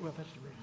Well, that's the reason.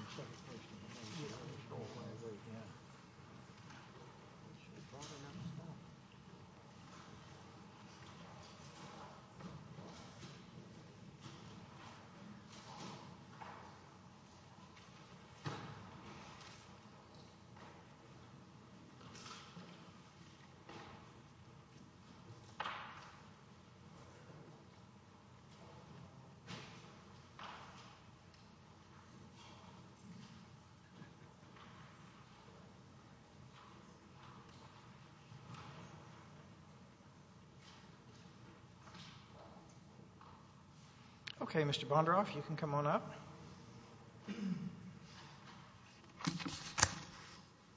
Okay, Mr. Bondaroff, you can come on up. Sam Bondaroff, III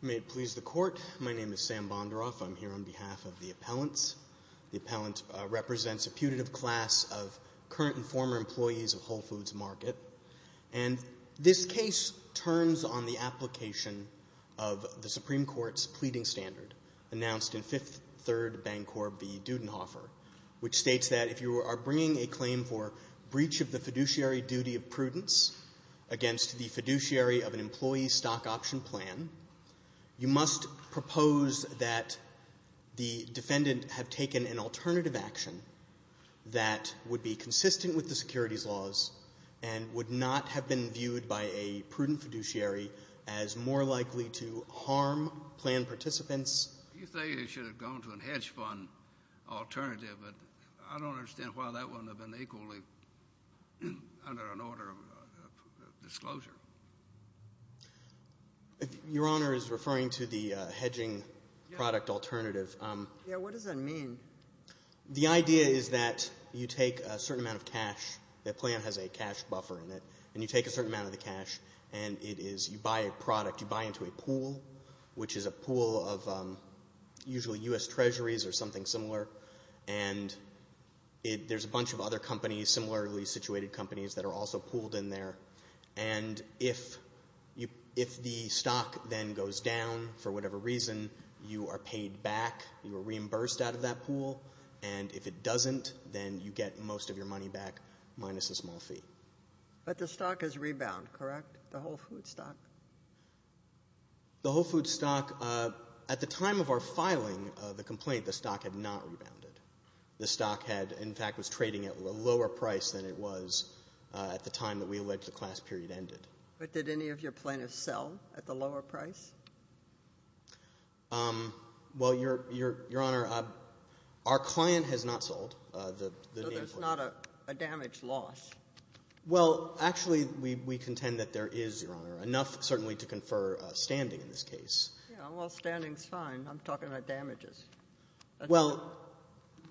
May it please the Court, my name is Sam Bondaroff. I'm here on behalf of the appellants. The appellant represents a putative class of current and former employees of Whole Foods Market. And this case turns on the application of the Supreme Court's pleading standard, announced in Fifth Third Bancorp v. Dudenhofer, which states that if you are bringing a claim for breach of the fiduciary duty of prudence against the fiduciary of an employee's stock option plan, you must propose that the defendant have taken an alternative action that would be consistent with the securities laws and would not have been viewed by a prudent fiduciary as more likely to harm plan participants. You say he should have gone to a hedge fund alternative, but I don't understand why that wouldn't have been equally under an order of disclosure. Your Honor is referring to the hedging product alternative. Yeah, what does that mean? The idea is that you take a certain amount of cash, the plan has a cash buffer in it, and you take a certain amount of the cash and you buy a product, you buy into a pool, which is a pool of usually U.S. Treasuries or something similar, and there's a bunch of other companies, similarly situated companies, that are also pooled in there. And if the stock then goes down for whatever reason, you are paid back, you are reimbursed out of that pool, and if it doesn't, then you get most of your money back minus a small fee. But the stock has rebound, correct, the Whole Foods stock? The Whole Foods stock, at the time of our filing of the complaint, the stock had not rebounded. The stock had, in fact, was trading at a lower price than it was at the time that we alleged the class period ended. But did any of your plaintiffs sell at the lower price? Well, Your Honor, our client has not sold. So there's not a damage loss? Well, actually, we contend that there is, Your Honor, enough certainly to confer standing in this case. Well, standing is fine. I'm talking about damages. Well,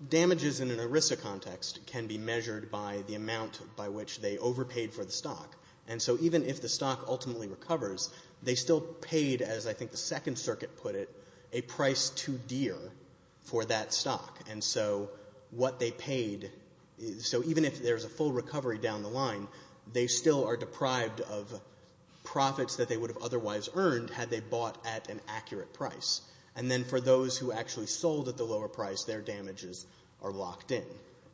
damages in an ERISA context can be measured by the amount by which they overpaid for the stock. And so even if the stock ultimately recovers, they still paid, as I think the Second Circuit put it, a price too dear for that stock. And so what they paid, so even if there's a full recovery down the line, they still are deprived of profits that they would have otherwise earned had they bought at an accurate price. And then for those who actually sold at the lower price, their damages are locked in.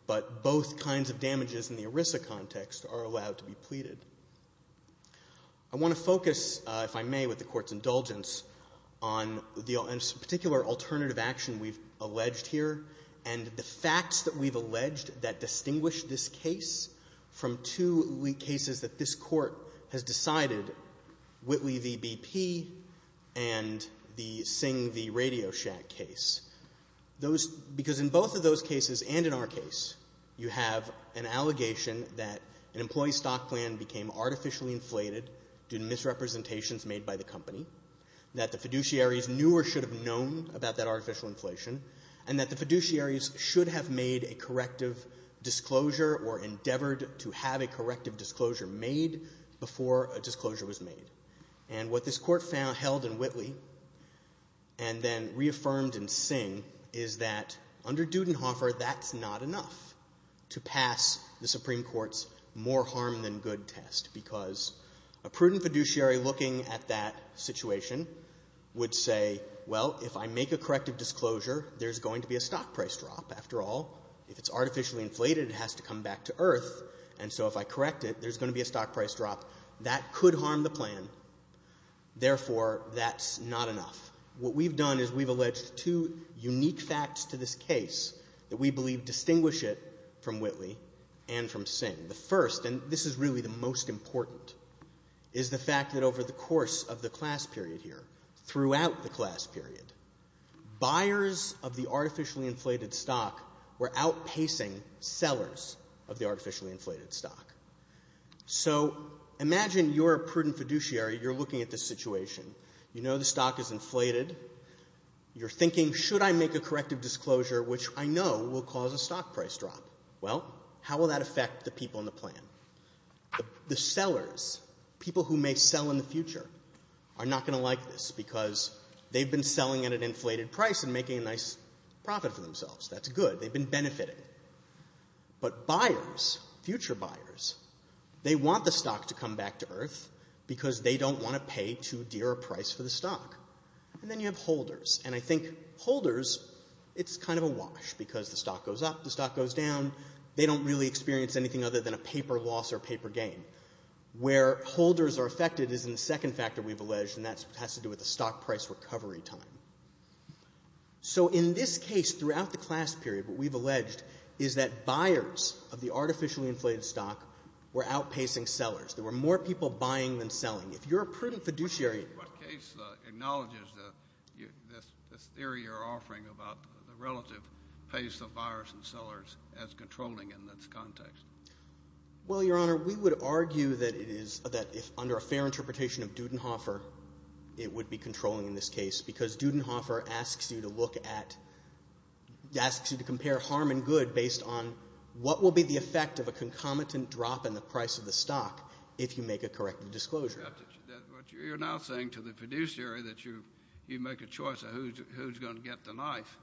But both kinds of damages in the ERISA context are allowed to be pleaded. I want to focus, if I may, with the Court's indulgence, on the particular alternative action we've taken and the facts that we've alleged that distinguish this case from two cases that this Court has decided, Whitley v. BP and the Singh v. Radio Shack case. Because in both of those cases and in our case, you have an allegation that an employee's stock plan became artificially inflated due to misrepresentations made by the company, that the fiduciaries knew or should have known about that artificial inflation, and that the fiduciaries should have made a corrective disclosure or endeavored to have a corrective disclosure made before a disclosure was made. And what this Court held in Whitley and then reaffirmed in Singh is that under Dudenhofer, that's not enough to pass the Supreme Court's more harm than good test. Because a prudent fiduciary looking at that situation would say, well, if I make a corrective disclosure, there's going to be a stock price drop. After all, if it's artificially inflated, it has to come back to earth. And so if I correct it, there's going to be a stock price drop. That could harm the plan. Therefore, that's not enough. What we've done is we've alleged two unique facts to this case that we believe distinguish it from Whitley and from Singh. The first, and this is really the most important, is the fact that over the course of the class period here, throughout the class period, buyers of the artificially inflated stock were outpacing sellers of the artificially inflated stock. So imagine you're a prudent fiduciary. You're looking at this situation. You know the stock is inflated. You're thinking, should I make a corrective disclosure, which I know will cause a stock price drop? Well, how will that affect the people in the plan? The sellers, people who may sell in the future, are not going to like this because they've been selling at an inflated price and making a nice profit for themselves. That's good. They've been benefiting. But buyers, future buyers, they want the stock to come back to earth because they don't want to pay too dear a price for the stock. And then you have holders. And I think holders, it's kind of a wash because the stock goes up, the stock goes down. They don't really experience anything other than a paper loss or paper gain. Where holders are affected is in the second factor we've alleged, and that has to do with the stock price recovery time. So in this case, throughout the class period, what we've alleged is that buyers of the artificially inflated stock were outpacing sellers. There were more people buying than selling. If you're a prudent fiduciary. What case acknowledges this theory you're offering about the relative pace of buyers and sellers as controlling in this context? Well, Your Honor, we would argue that it is, that if under a fair interpretation of Dudenhofer, it would be controlling in this case because Dudenhofer asks you to look at, asks you to compare harm and good based on what will be the effect of a concomitant drop in the price of the stock if you make a correct disclosure. But you're now saying to the fiduciary that you make a choice of who's going to get the knife.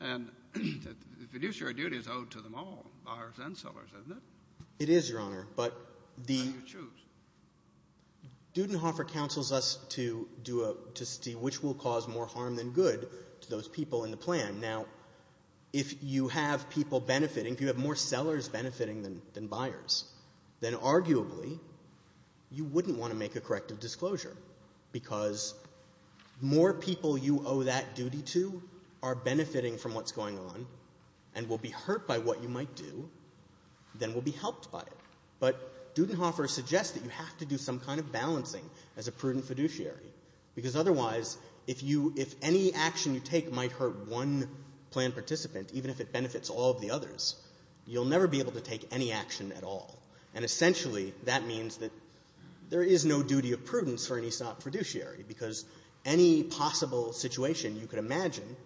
And the fiduciary duty is owed to them all, buyers and sellers, isn't it? It is, Your Honor, but the Dudenhofer counsels us to do a, to see which will cause more harm than good to those people in the plan. Now, if you have people benefiting, if you have more sellers benefiting than buyers, then arguably you wouldn't want to make a corrective disclosure because more people you owe that duty to are benefiting from what's going on and will be hurt by what you might do than will be helped by it. But Dudenhofer suggests that you have to do some kind of balancing as a prudent fiduciary because otherwise if you, if any action you take might hurt one plan participant, even if it benefits all of the others, you'll never be able to take any action at all. And essentially that means that there is no duty of prudence for an ESOP fiduciary because any possible situation you could imagine,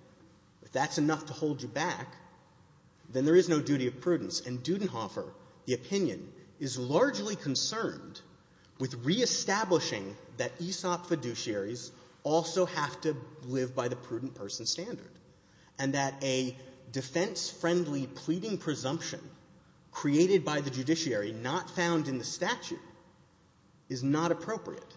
if that's enough to hold you back, then there is no duty of prudence. And Dudenhofer, the opinion, is largely concerned with reestablishing that ESOP fiduciaries also have to live by the prudent person standard and that a defense-friendly pleading presumption created by the judiciary, not found in the statute, is not appropriate.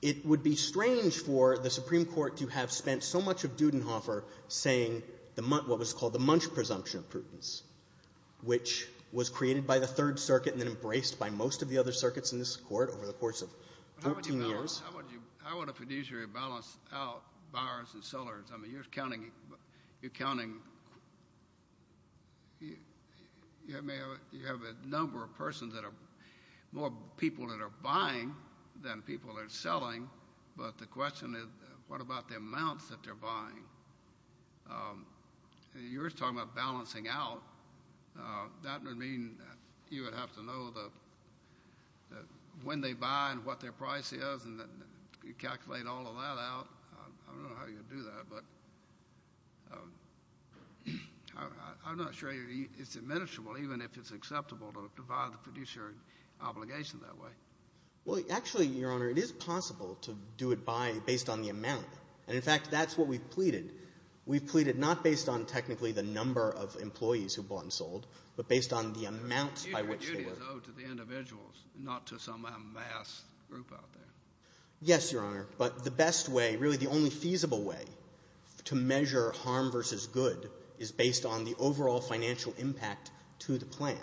It would be strange for the Supreme Court to have spent so much of Dudenhofer saying what was called the munch presumption of prudence, which was created by the Third Circuit and then embraced by most of the other circuits in this Court over the course of 14 years. I want a fiduciary to balance out buyers and sellers. I mean, you're counting, you have a number of persons that are more people that are buying than people that are selling, but the question is what about the amounts that they're buying? You're talking about balancing out. That would mean you would have to know when they buy and what their price is and calculate all of that out. I don't know how you would do that, but I'm not sure it's admissible, even if it's acceptable to divide the fiduciary obligation that way. Well, actually, Your Honor, it is possible to do it based on the amount. We've pleaded not based on technically the number of employees who bought and sold, but based on the amount by which they were. It's a duty, though, to the individuals, not to some mass group out there. Yes, Your Honor, but the best way, really the only feasible way to measure harm versus good is based on the overall financial impact to the plan.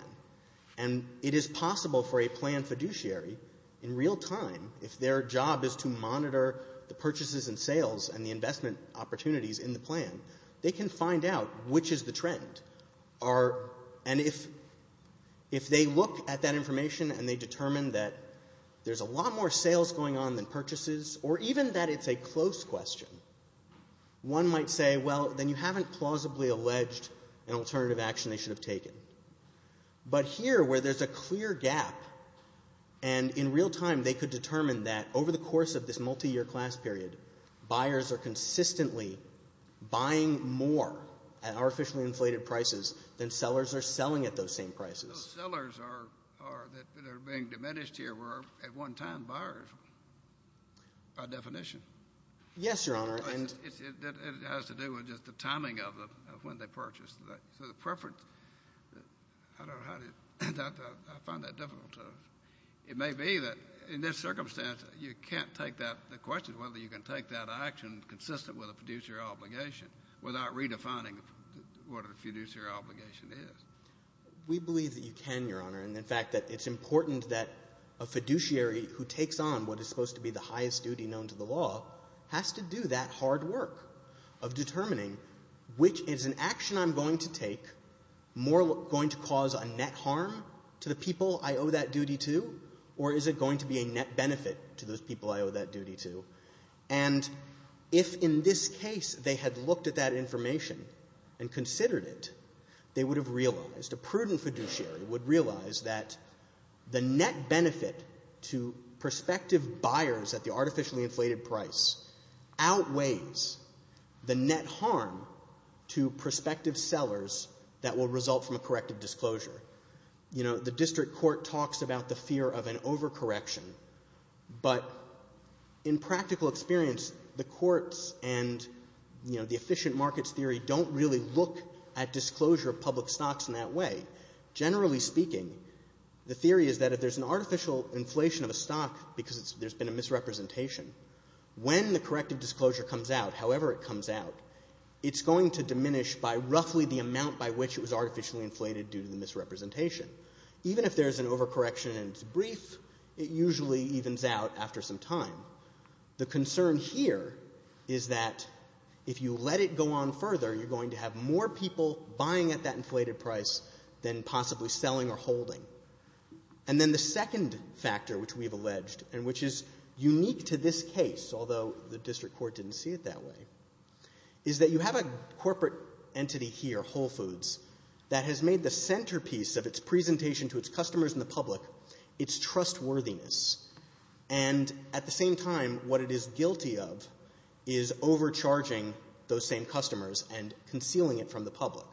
And it is possible for a planned fiduciary in real time, if their job is to monitor the purchases and sales and the investment opportunities in the plan, they can find out which is the trend. And if they look at that information and they determine that there's a lot more sales going on than purchases or even that it's a close question, one might say, well, then you haven't plausibly alleged an alternative action they should have taken. But here, where there's a clear gap and in real time they could determine that over the course of this multiyear class period, buyers are consistently buying more at artificially inflated prices than sellers are selling at those same prices. Those sellers that are being diminished here were at one time buyers by definition. Yes, Your Honor. It has to do with just the timing of when they purchased. So the preference, I don't know how to, I find that difficult. It may be that in this circumstance you can't take that question, whether you can take that action consistent with a fiduciary obligation without redefining what a fiduciary obligation is. We believe that you can, Your Honor. And, in fact, that it's important that a fiduciary who takes on what is supposed to be the highest duty known to the law has to do that hard work of determining which is an action I'm going to take more going to cause a net harm to the people I owe that duty to or is it going to be a net benefit to those people I owe that duty to. And if in this case they had looked at that information and considered it, they would have realized, a prudent fiduciary would realize, that the net benefit to prospective buyers at the artificially inflated price outweighs the net harm to prospective sellers that will result from a corrective disclosure. The district court talks about the fear of an overcorrection, but in practical experience the courts and the efficient markets theory don't really look at disclosure of public stocks in that way. Generally speaking, the theory is that if there's an artificial inflation of a stock, because there's been a misrepresentation, when the corrective disclosure comes out, however it comes out, it's going to diminish by roughly the amount by which it was artificially inflated due to the misrepresentation. Even if there's an overcorrection and it's brief, it usually evens out after some time. The concern here is that if you let it go on further, you're going to have more people buying at that inflated price than possibly selling or holding. And then the second factor which we've alleged and which is unique to this case, although the district court didn't see it that way, is that you have a corporate entity here, Whole Foods, that has made the centerpiece of its presentation to its customers and the public its trustworthiness. And at the same time, what it is guilty of is overcharging those same customers and concealing it from the public.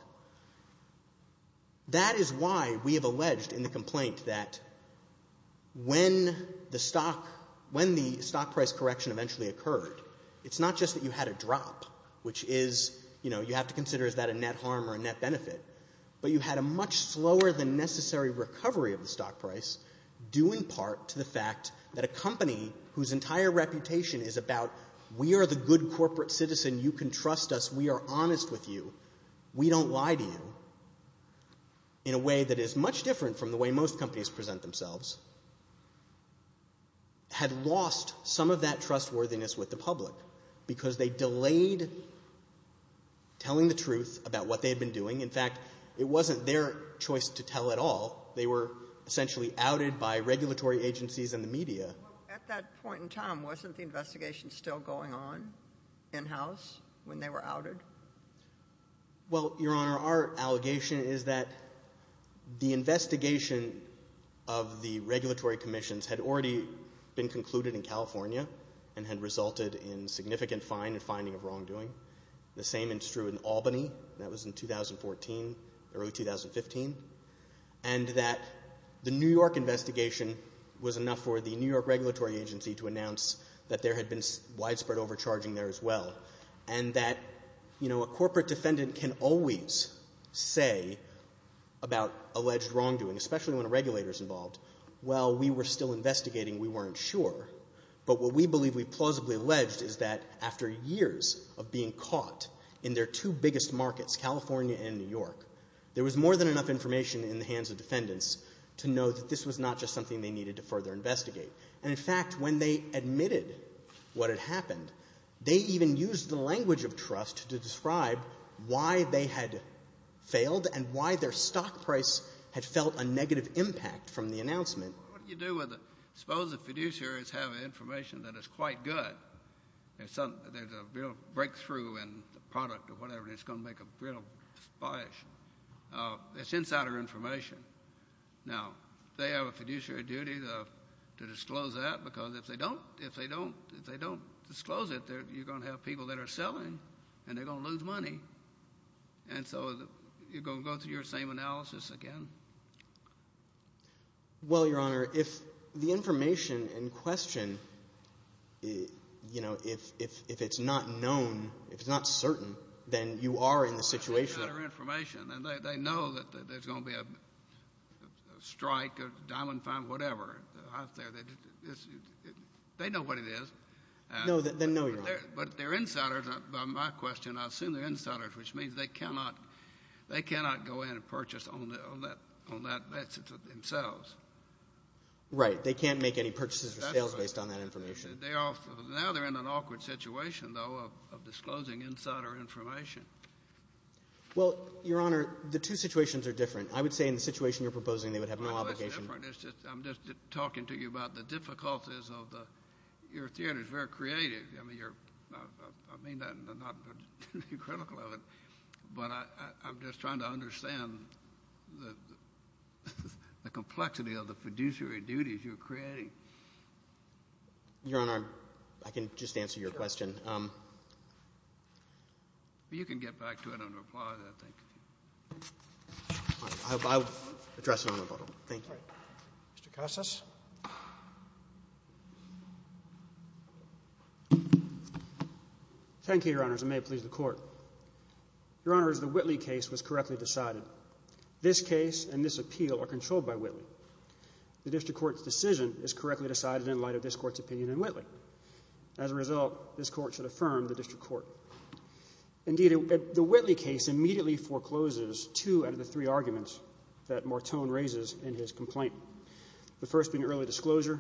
That is why we have alleged in the complaint that when the stock price correction eventually occurred, it's not just that you had a drop, which is, you know, you have to consider is that a net harm or a net benefit, but you had a much slower than necessary recovery of the stock price due in part to the fact that a company whose entire reputation is about we are the good corporate citizen, you can trust us, we are honest with you, we don't lie to you, in a way that is much different from the way most companies present themselves, had lost some of that trustworthiness with the public because they delayed telling the truth about what they had been doing. In fact, it wasn't their choice to tell at all. They were essentially outed by regulatory agencies and the media. At that point in time, wasn't the investigation still going on in-house when they were outed? Well, Your Honor, our allegation is that the investigation of the regulatory commissions had already been concluded in California and had resulted in significant fine and finding of wrongdoing. The same is true in Albany, and that was in 2014, early 2015, and that the New York investigation was enough for the New York regulatory agency to announce that there had been widespread overcharging there as well and that a corporate defendant can always say about alleged wrongdoing, especially when a regulator is involved, well, we were still investigating, we weren't sure, but what we believe we plausibly alleged is that after years of being caught in their two biggest markets, California and New York, there was more than enough information in the hands of defendants to know that this was not just something they needed to further investigate. And, in fact, when they admitted what had happened, they even used the language of trust to describe why they had failed and why their stock price had felt a negative impact from the announcement. What do you do with it? Suppose the fiduciaries have information that is quite good. There's a real breakthrough in the product or whatever, and it's going to make a real splash. It's insider information. Now, they have a fiduciary duty to disclose that because if they don't disclose it, you're going to have people that are selling and they're going to lose money. And so you're going to go through your same analysis again. Well, Your Honor, if the information in question, if it's not known, if it's not certain, then you are in the situation. It's insider information, and they know that there's going to be a strike or a diamond find or whatever out there. They know what it is. Then no, Your Honor. But they're insiders. By my question, I assume they're insiders, which means they cannot go in and purchase on that basis themselves. Right. They can't make any purchases or sales based on that information. Now they're in an awkward situation, though, of disclosing insider information. Well, Your Honor, the two situations are different. I would say in the situation you're proposing they would have no obligation. No, that's different. I'm just talking to you about the difficulties of the – your theory is very creative. I mean, you're – I mean that and I'm not critical of it, but I'm just trying to understand the complexity of the fiduciary duties you're creating. Your Honor, I can just answer your question. Sure. You can get back to it and reply, I think. I will address it on rebuttal. Thank you. Mr. Casas. Thank you, Your Honors, and may it please the Court. Your Honors, the Whitley case was correctly decided. This case and this appeal are controlled by Whitley. The district court's decision is correctly decided in light of this court's opinion in Whitley. As a result, this court should affirm the district court. Indeed, the Whitley case immediately forecloses two out of the three arguments that Morton raises in his complaint. The first being early disclosure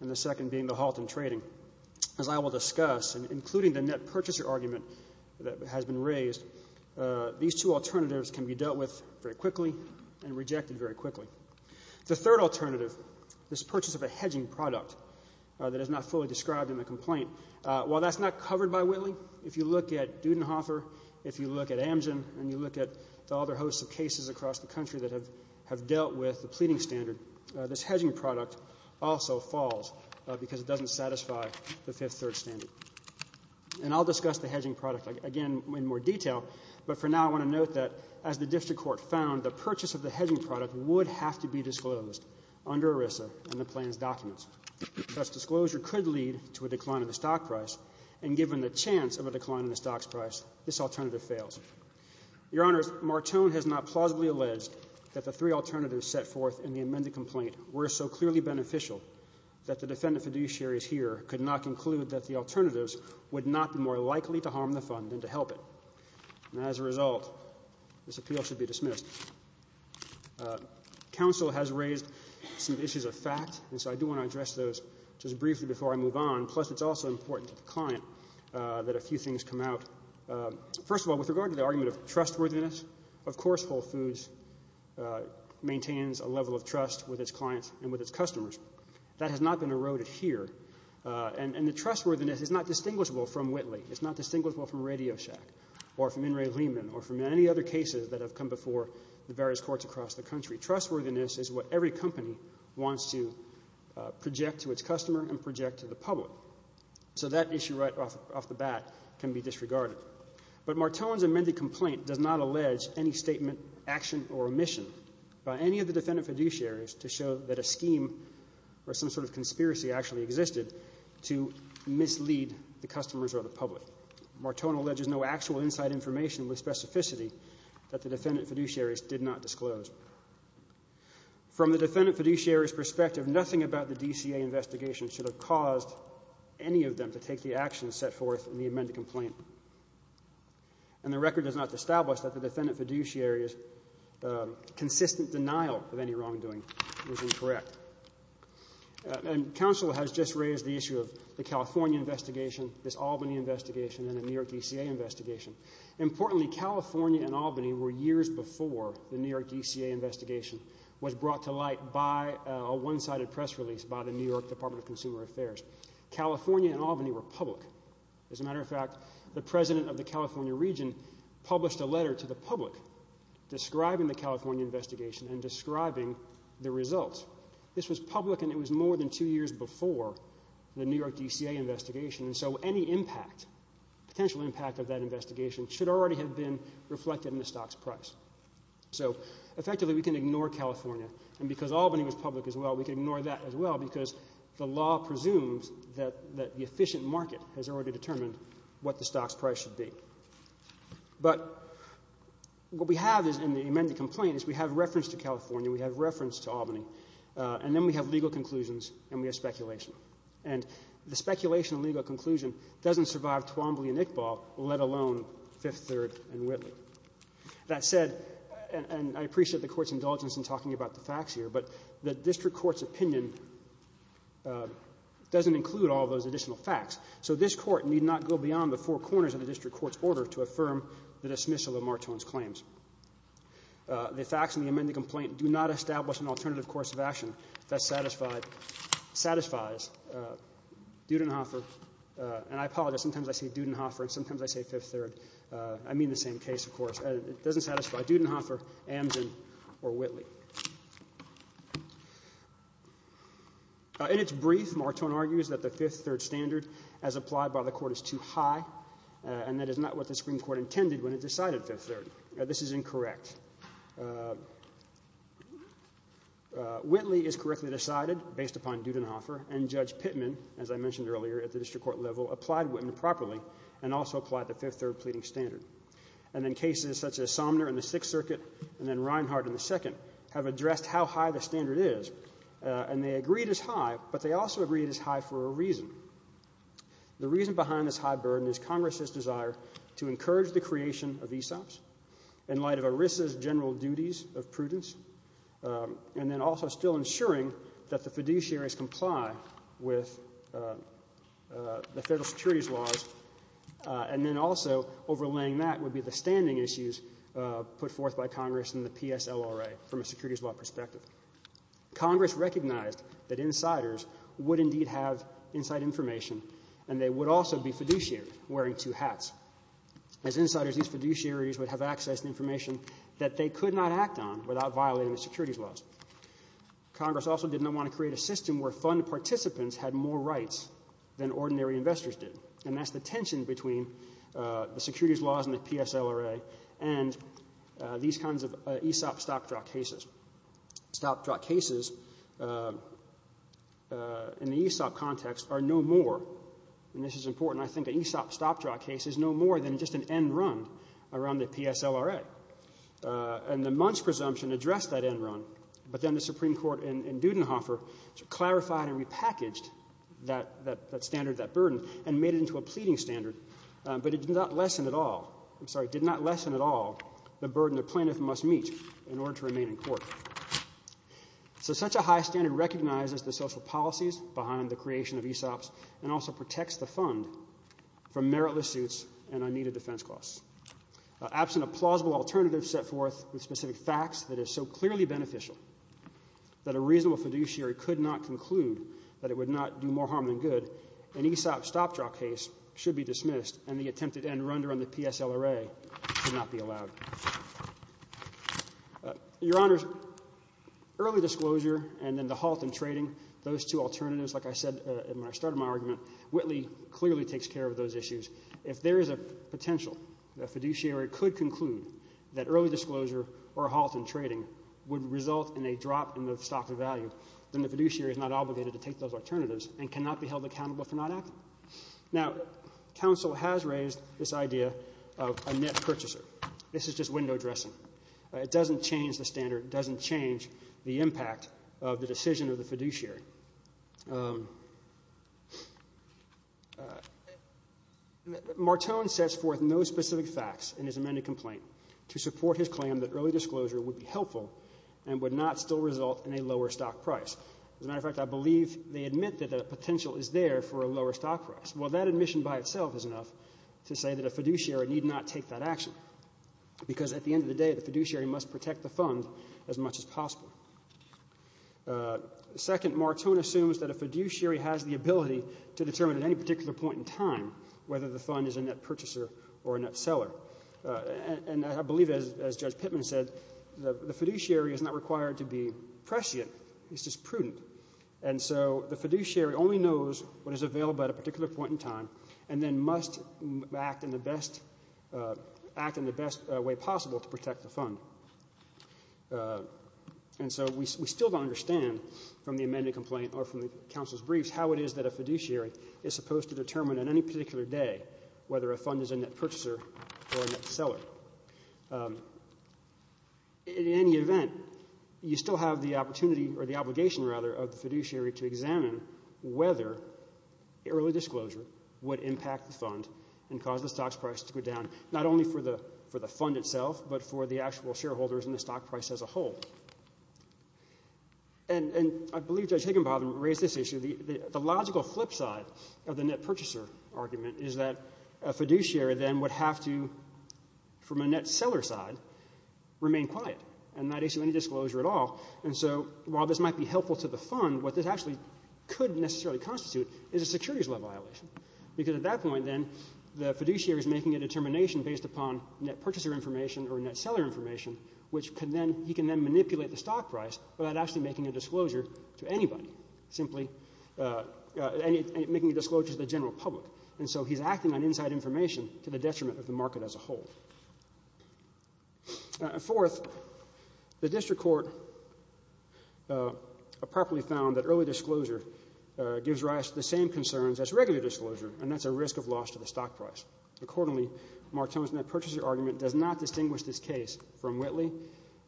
and the second being the halt in trading. As I will discuss, including the net purchaser argument that has been raised, these two alternatives can be dealt with very quickly and rejected very quickly. The third alternative, this purchase of a hedging product that is not fully described in the complaint. While that's not covered by Whitley, if you look at Dudenhofer, if you look at Amgen, and you look at the other hosts of cases across the country that have dealt with the pleading standard, this hedging product also falls because it doesn't satisfy the fifth-third standard. And I'll discuss the hedging product again in more detail, but for now I want to note that as the district court found, the purchase of the hedging product would have to be disclosed under ERISA in the plan's documents. Thus, disclosure could lead to a decline in the stock price, and given the chance of a decline in the stock price, this alternative fails. Your Honors, Morton has not plausibly alleged that the three alternatives set forth in the amended complaint were so clearly beneficial that the defendant fiduciaries here could not conclude that the alternatives would not be more likely to harm the fund than to help it. And as a result, this appeal should be dismissed. Counsel has raised some issues of fact, and so I do want to address those just briefly before I move on. Plus, it's also important to the client that a few things come out. First of all, with regard to the argument of trustworthiness, of course Whole Foods maintains a level of trust with its clients and with its customers. That has not been eroded here, and the trustworthiness is not distinguishable from Whitley. It's not distinguishable from Radio Shack or from In re Lehman or from any other cases that have come before the various courts across the country. Trustworthiness is what every company wants to project to its customer and project to the public. So that issue right off the bat can be disregarded. But Morton's amended complaint does not allege any statement, action, or omission by any of the defendant fiduciaries to show that a scheme or some sort of conspiracy actually existed to mislead the customers or the public. Morton alleges no actual inside information with specificity that the defendant fiduciaries did not disclose. From the defendant fiduciaries' perspective, nothing about the DCA investigation should have caused any of them to take the action set forth in the amended complaint. And the record does not establish that the defendant fiduciaries' consistent denial of any wrongdoing was incorrect. And counsel has just raised the issue of the California investigation, this Albany investigation, and the New York DCA investigation. Importantly, California and Albany were years before the New York DCA investigation was brought to light by a one-sided press release by the New York Department of Consumer Affairs. California and Albany were public. As a matter of fact, the president of the California region published a letter to the public describing the California investigation and describing the results. This was public, and it was more than two years before the New York DCA investigation. And so any impact, potential impact of that investigation, should already have been reflected in the stock's price. So effectively, we can ignore California. And because Albany was public as well, we can ignore that as well because the law presumes that the efficient market has already determined what the stock's price should be. But what we have in the amended complaint is we have reference to California, we have reference to Albany, and then we have legal conclusions and we have speculation. And the speculation and legal conclusion doesn't survive Twombly and Iqbal, let alone Fifth Third and Whitley. That said, and I appreciate the Court's indulgence in talking about the facts here, but the district court's opinion doesn't include all those additional facts. So this Court need not go beyond the four corners of the district court's order to affirm the dismissal of Martone's claims. The facts in the amended complaint do not establish an alternative course of action that satisfies Dudenhofer. And I apologize, sometimes I say Dudenhofer and sometimes I say Fifth Third. I mean the same case, of course. It doesn't satisfy Dudenhofer, Amzin, or Whitley. In its brief, Martone argues that the Fifth Third standard as applied by the Court is too high and that is not what the Supreme Court intended when it decided Fifth Third. This is incorrect. Whitley is correctly decided based upon Dudenhofer, and Judge Pittman, as I mentioned earlier, at the district court level applied Whitman properly and also applied the Fifth Third pleading standard. And then cases such as Somner in the Sixth Circuit and then Reinhardt in the Second have addressed how high the standard is. And they agreed it's high, but they also agreed it's high for a reason. The reason behind this high burden is Congress's desire to encourage the creation of ESOPs in light of ERISA's general duties of prudence and then also still ensuring that the fiduciaries comply with the federal securities laws and then also overlaying that would be the standing issues put forth by Congress in the PSLRA from a securities law perspective. Congress recognized that insiders would indeed have inside information and they would also be fiduciaries wearing two hats. As insiders, these fiduciaries would have access to information that they could not act on without violating the securities laws. Congress also did not want to create a system where fund participants had more rights than ordinary investors did, and that's the tension between the securities laws and the PSLRA and these kinds of ESOP stop-draw cases. Stop-draw cases in the ESOP context are no more, and this is important, I think, that ESOP stop-draw cases are no more than just an end run around the PSLRA. And the Munch presumption addressed that end run, but then the Supreme Court in Dudenhofer clarified and repackaged that standard, that burden, and made it into a pleading standard, but it did not lessen at all, I'm sorry, did not lessen at all the burden the plaintiff must meet in order to remain in court. So such a high standard recognizes the social policies behind the creation of ESOPs and also protects the fund from meritless suits and unneeded defense costs. Absent a plausible alternative set forth with specific facts that is so clearly beneficial that a reasonable fiduciary could not conclude that it would not do more harm than good, an ESOP stop-draw case should be dismissed and the attempted end run around the PSLRA should not be allowed. Your Honors, early disclosure and then the halt in trading, those two alternatives, like I said when I started my argument, Whitley clearly takes care of those issues. If there is a potential that a fiduciary could conclude that early disclosure or a halt in trading would result in a drop in the stock's value, then the fiduciary is not obligated to take those alternatives and cannot be held accountable for not acting. Now, counsel has raised this idea of a net purchaser. This is just window dressing. It doesn't change the standard. It doesn't change the impact of the decision of the fiduciary. Martone sets forth no specific facts in his amended complaint to support his claim that early disclosure would be helpful and would not still result in a lower stock price. As a matter of fact, I believe they admit that the potential is there for a lower stock price. Well, that admission by itself is enough to say that a fiduciary need not take that action because at the end of the day the fiduciary must protect the fund as much as possible. Second, Martone assumes that a fiduciary has the ability to determine at any particular point in time whether the fund is a net purchaser or a net seller. And I believe, as Judge Pittman said, the fiduciary is not required to be prescient. It's just prudent. And so the fiduciary only knows what is available at a particular point in time and then must act in the best way possible to protect the fund. And so we still don't understand from the amended complaint or from the counsel's briefs how it is that a fiduciary is supposed to determine on any particular day whether a fund is a net purchaser or a net seller. In any event, you still have the opportunity or the obligation, rather, of the fiduciary to examine whether early disclosure would impact the fund and cause the stock price to go down not only for the fund itself but for the actual shareholders and the stock price as a whole. And I believe Judge Higginbotham raised this issue. The logical flip side of the net purchaser argument is that a fiduciary then would have to, from a net seller side, remain quiet and not issue any disclosure at all. And so while this might be helpful to the fund, what this actually could necessarily constitute is a securities level violation because at that point then the fiduciary is making a determination based upon net purchaser information or net seller information which he can then manipulate the stock price without actually making a disclosure to anybody, simply making a disclosure to the general public. And so he's acting on inside information to the detriment of the market as a whole. Fourth, the district court properly found that early disclosure gives rise to the same concerns as regular disclosure, and that's a risk of loss to the stock price. Accordingly, Martone's net purchaser argument does not distinguish this case from Whitley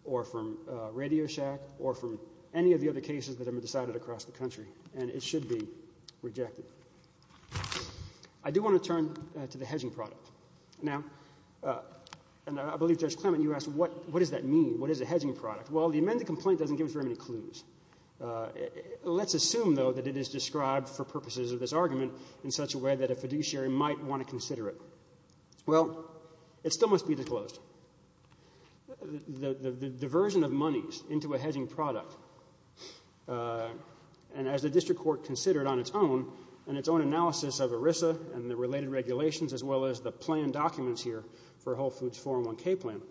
or from Radio Shack or from any of the other cases that have been decided across the country, and it should be rejected. I do want to turn to the hedging product. Now, and I believe Judge Clement, you asked what does that mean? What is a hedging product? Well, the amended complaint doesn't give us very many clues. Let's assume, though, that it is described for purposes of this argument in such a way that a fiduciary might want to consider it. Well, it still must be disclosed. The diversion of monies into a hedging product, and as the district court considered on its own and its own analysis of ERISA and the related regulations as well as the plan documents here for Whole Foods' 401k plan,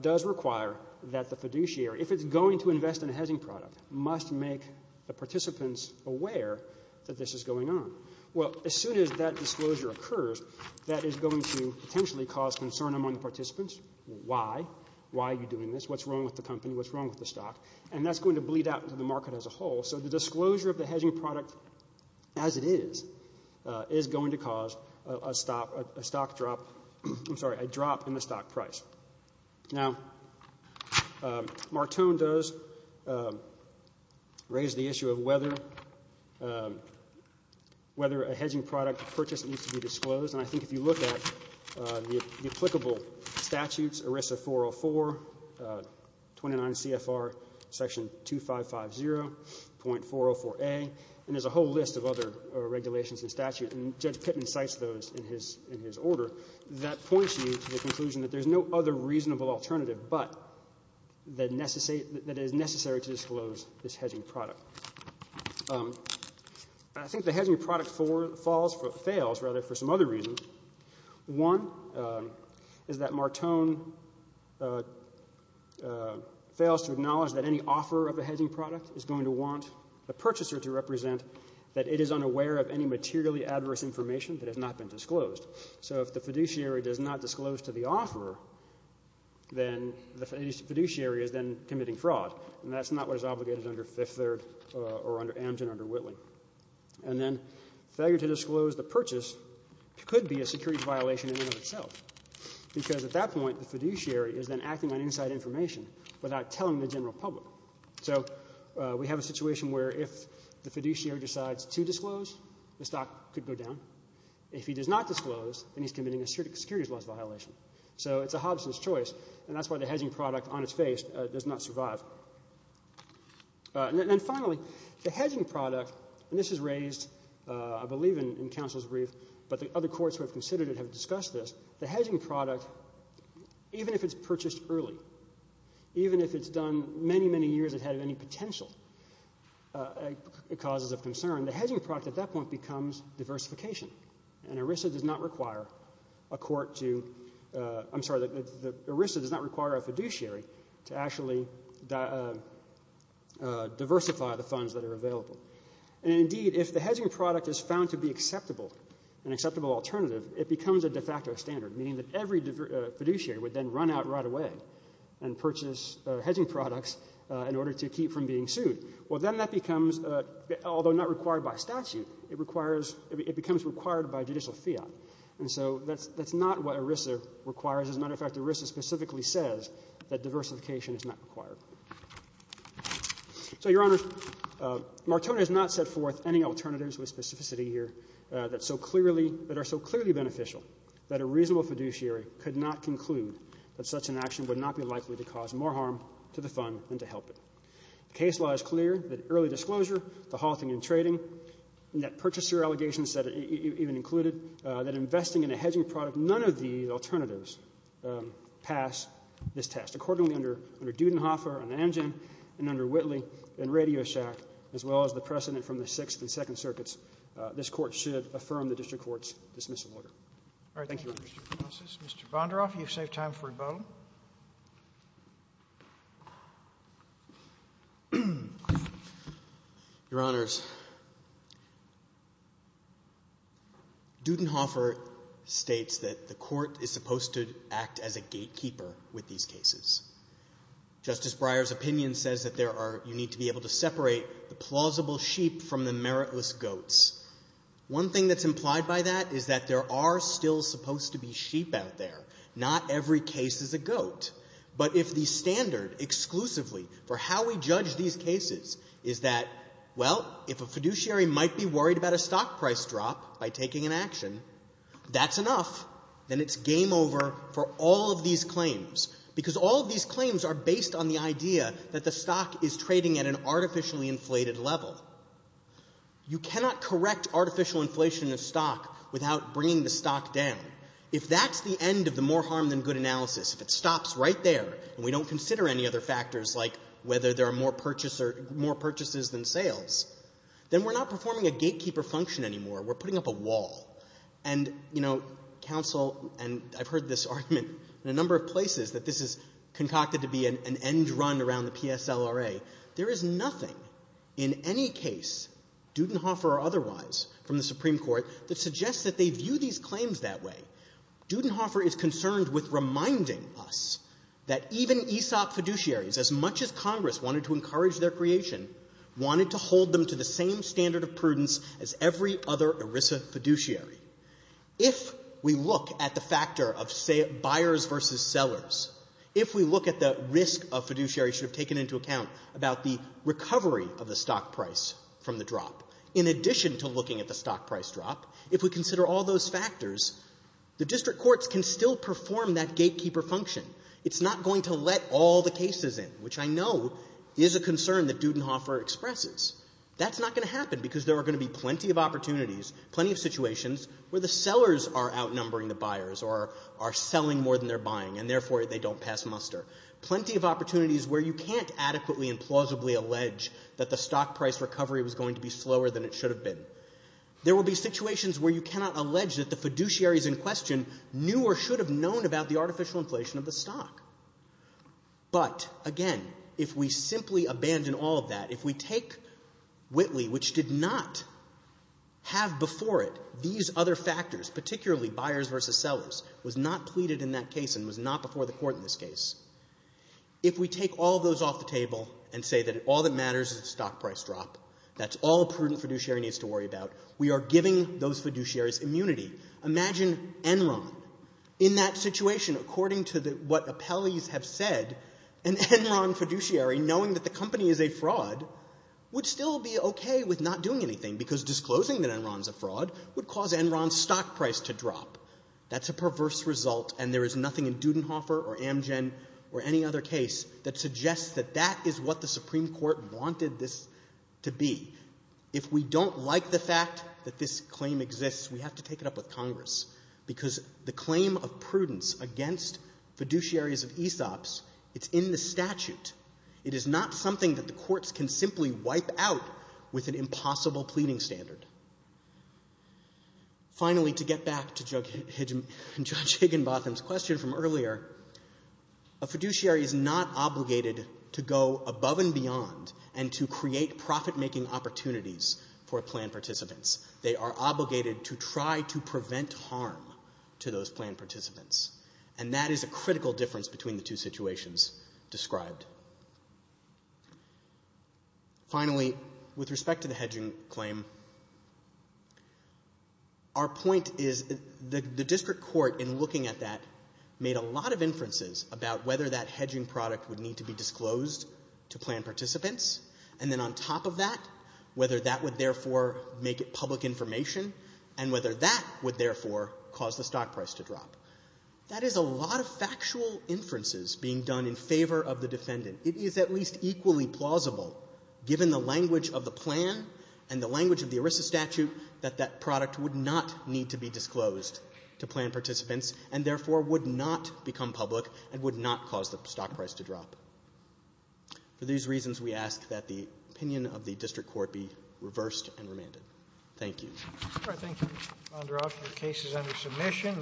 does require that the fiduciary, if it's going to invest in a hedging product, must make the participants aware that this is going on. Well, as soon as that disclosure occurs, that is going to potentially cause concern among the participants. Why? Why are you doing this? What's wrong with the company? What's wrong with the stock? And that's going to bleed out into the market as a whole. So the disclosure of the hedging product as it is, is going to cause a stock drop I'm sorry, a drop in the stock price. Now, Martone does raise the issue of whether a hedging product purchase needs to be disclosed. And I think if you look at the applicable statutes, ERISA 404, 29 CFR section 2550.404a, and there's a whole list of other regulations and statutes, and Judge Pittman cites those in his order, that points you to the conclusion that there's no other reasonable alternative but that it is necessary to disclose this hedging product. I think the hedging product falls or fails, rather, for some other reasons. One is that Martone fails to acknowledge that any offeror of a hedging product is going to want the purchaser to represent that it is unaware of any materially adverse information that has not been disclosed. So if the fiduciary does not disclose to the offeror, then the fiduciary is then committing fraud. And that's not what is obligated under Fifth Third or under Amgen or under Whitley. And then failure to disclose the purchase could be a securities violation in and of itself, because at that point the fiduciary is then acting on inside information without telling the general public. So we have a situation where if the fiduciary decides to disclose, the stock could go down. If he does not disclose, then he's committing a securities loss violation. So it's a Hobson's choice, and that's why the hedging product on its face does not survive. And then finally, the hedging product, and this is raised, I believe, in counsel's brief, but the other courts who have considered it have discussed this. The hedging product, even if it's purchased early, even if it's done many, many years ahead of any potential causes of concern, the hedging product at that point becomes diversification. And ERISA does not require a court to – I'm sorry. ERISA does not require a fiduciary to actually diversify the funds that are available. And indeed, if the hedging product is found to be acceptable, an acceptable alternative, it becomes a de facto standard, meaning that every fiduciary would then run out right away and purchase hedging products in order to keep from being sued. Well, then that becomes, although not required by statute, it requires – it becomes required by judicial fiat. And so that's not what ERISA requires. As a matter of fact, ERISA specifically says that diversification is not required. So, Your Honors, Martone has not set forth any alternatives with specificity here that so clearly – that are so clearly beneficial that a reasonable fiduciary could not conclude that such an action would not be likely to cause more harm to the fund than to help it. The case law is clear that early disclosure, the halting in trading, net purchaser allegations that it even included, that investing in a hedging product, none of the alternatives pass this test. Accordingly, under Dudenhofer and Amgen and under Whitley and RadioShack, as well as the precedent from the Sixth and Second Circuits, this Court should affirm the district court's dismissal order. Thank you, Your Honors. Mr. Bondaroff, you've saved time for rebuttal. Your Honors, Dudenhofer states that the Court is supposed to act as a gatekeeper with these cases. Justice Breyer's opinion says that there are – you need to be able to separate the plausible sheep from the meritless goats. One thing that's implied by that is that there are still supposed to be sheep out there. Not every case is a goat. But if the standard exclusively for how we judge these cases is that, well, if a fiduciary might be worried about a stock price drop by taking an action, that's enough, then it's game over for all of these claims. Because all of these claims are based on the idea that the stock is trading at an artificially inflated level. You cannot correct artificial inflation of stock without bringing the stock down. If that's the end of the more harm than good analysis, if it stops right there and we don't consider any other factors like whether there are more purchases than sales, then we're not performing a gatekeeper function anymore. We're putting up a wall. And, you know, counsel – and I've heard this argument in a number of places that this is concocted to be an end run around the PSLRA. There is nothing in any case, Dudenhofer or otherwise, from the Supreme Court that suggests that they view these claims that way. Dudenhofer is concerned with reminding us that even ESOP fiduciaries, as much as Congress wanted to encourage their creation, wanted to hold them to the same standard of prudence as every other ERISA fiduciary. If we look at the factor of buyers versus sellers, if we look at the risk of about the recovery of the stock price from the drop, in addition to looking at the stock price drop, if we consider all those factors, the district courts can still perform that gatekeeper function. It's not going to let all the cases in, which I know is a concern that Dudenhofer expresses. That's not going to happen because there are going to be plenty of opportunities, plenty of situations where the sellers are outnumbering the buyers or are selling more than they're buying, and therefore they don't pass muster. Plenty of opportunities where you can't adequately and plausibly allege that the stock price recovery was going to be slower than it should have been. There will be situations where you cannot allege that the fiduciaries in question knew or should have known about the artificial inflation of the stock. But, again, if we simply abandon all of that, if we take Whitley, which did not have before it these other factors, particularly buyers versus sellers, was not before the court in this case, if we take all those off the table and say that all that matters is the stock price drop, that's all a prudent fiduciary needs to worry about, we are giving those fiduciaries immunity. Imagine Enron. In that situation, according to what appellees have said, an Enron fiduciary, knowing that the company is a fraud, would still be okay with not doing anything because disclosing that Enron is a fraud would cause Enron's stock price to drop. That's a perverse result, and there is nothing in Dudenhoffer or Amgen or any other case that suggests that that is what the Supreme Court wanted this to be. If we don't like the fact that this claim exists, we have to take it up with Congress because the claim of prudence against fiduciaries of ESOPs, it's in the statute. It is not something that the courts can simply wipe out with an impossible pleading standard. Finally, to get back to Judge Higginbotham's question from earlier, a fiduciary is not obligated to go above and beyond and to create profit-making opportunities for planned participants. They are obligated to try to prevent harm to those planned participants, and that is a critical difference between the two situations described. Finally, with respect to the hedging claim, our point is the district court, in looking at that, made a lot of inferences about whether that hedging product would need to be disclosed to planned participants, and then on top of that, whether that would therefore make it public information, and whether that would therefore cause the stock price to drop. That is a lot of factual inferences being done in favor of the defendant. It is at least equally plausible, given the language of the plan and the language of the ERISA statute, that that product would not need to be disclosed to planned participants, and therefore would not become public and would not cause the stock price to drop. For these reasons, we ask that the opinion of the district court be reversed and remanded. Thank you. Roberts. Thank you. I'll now draw up the cases under submission.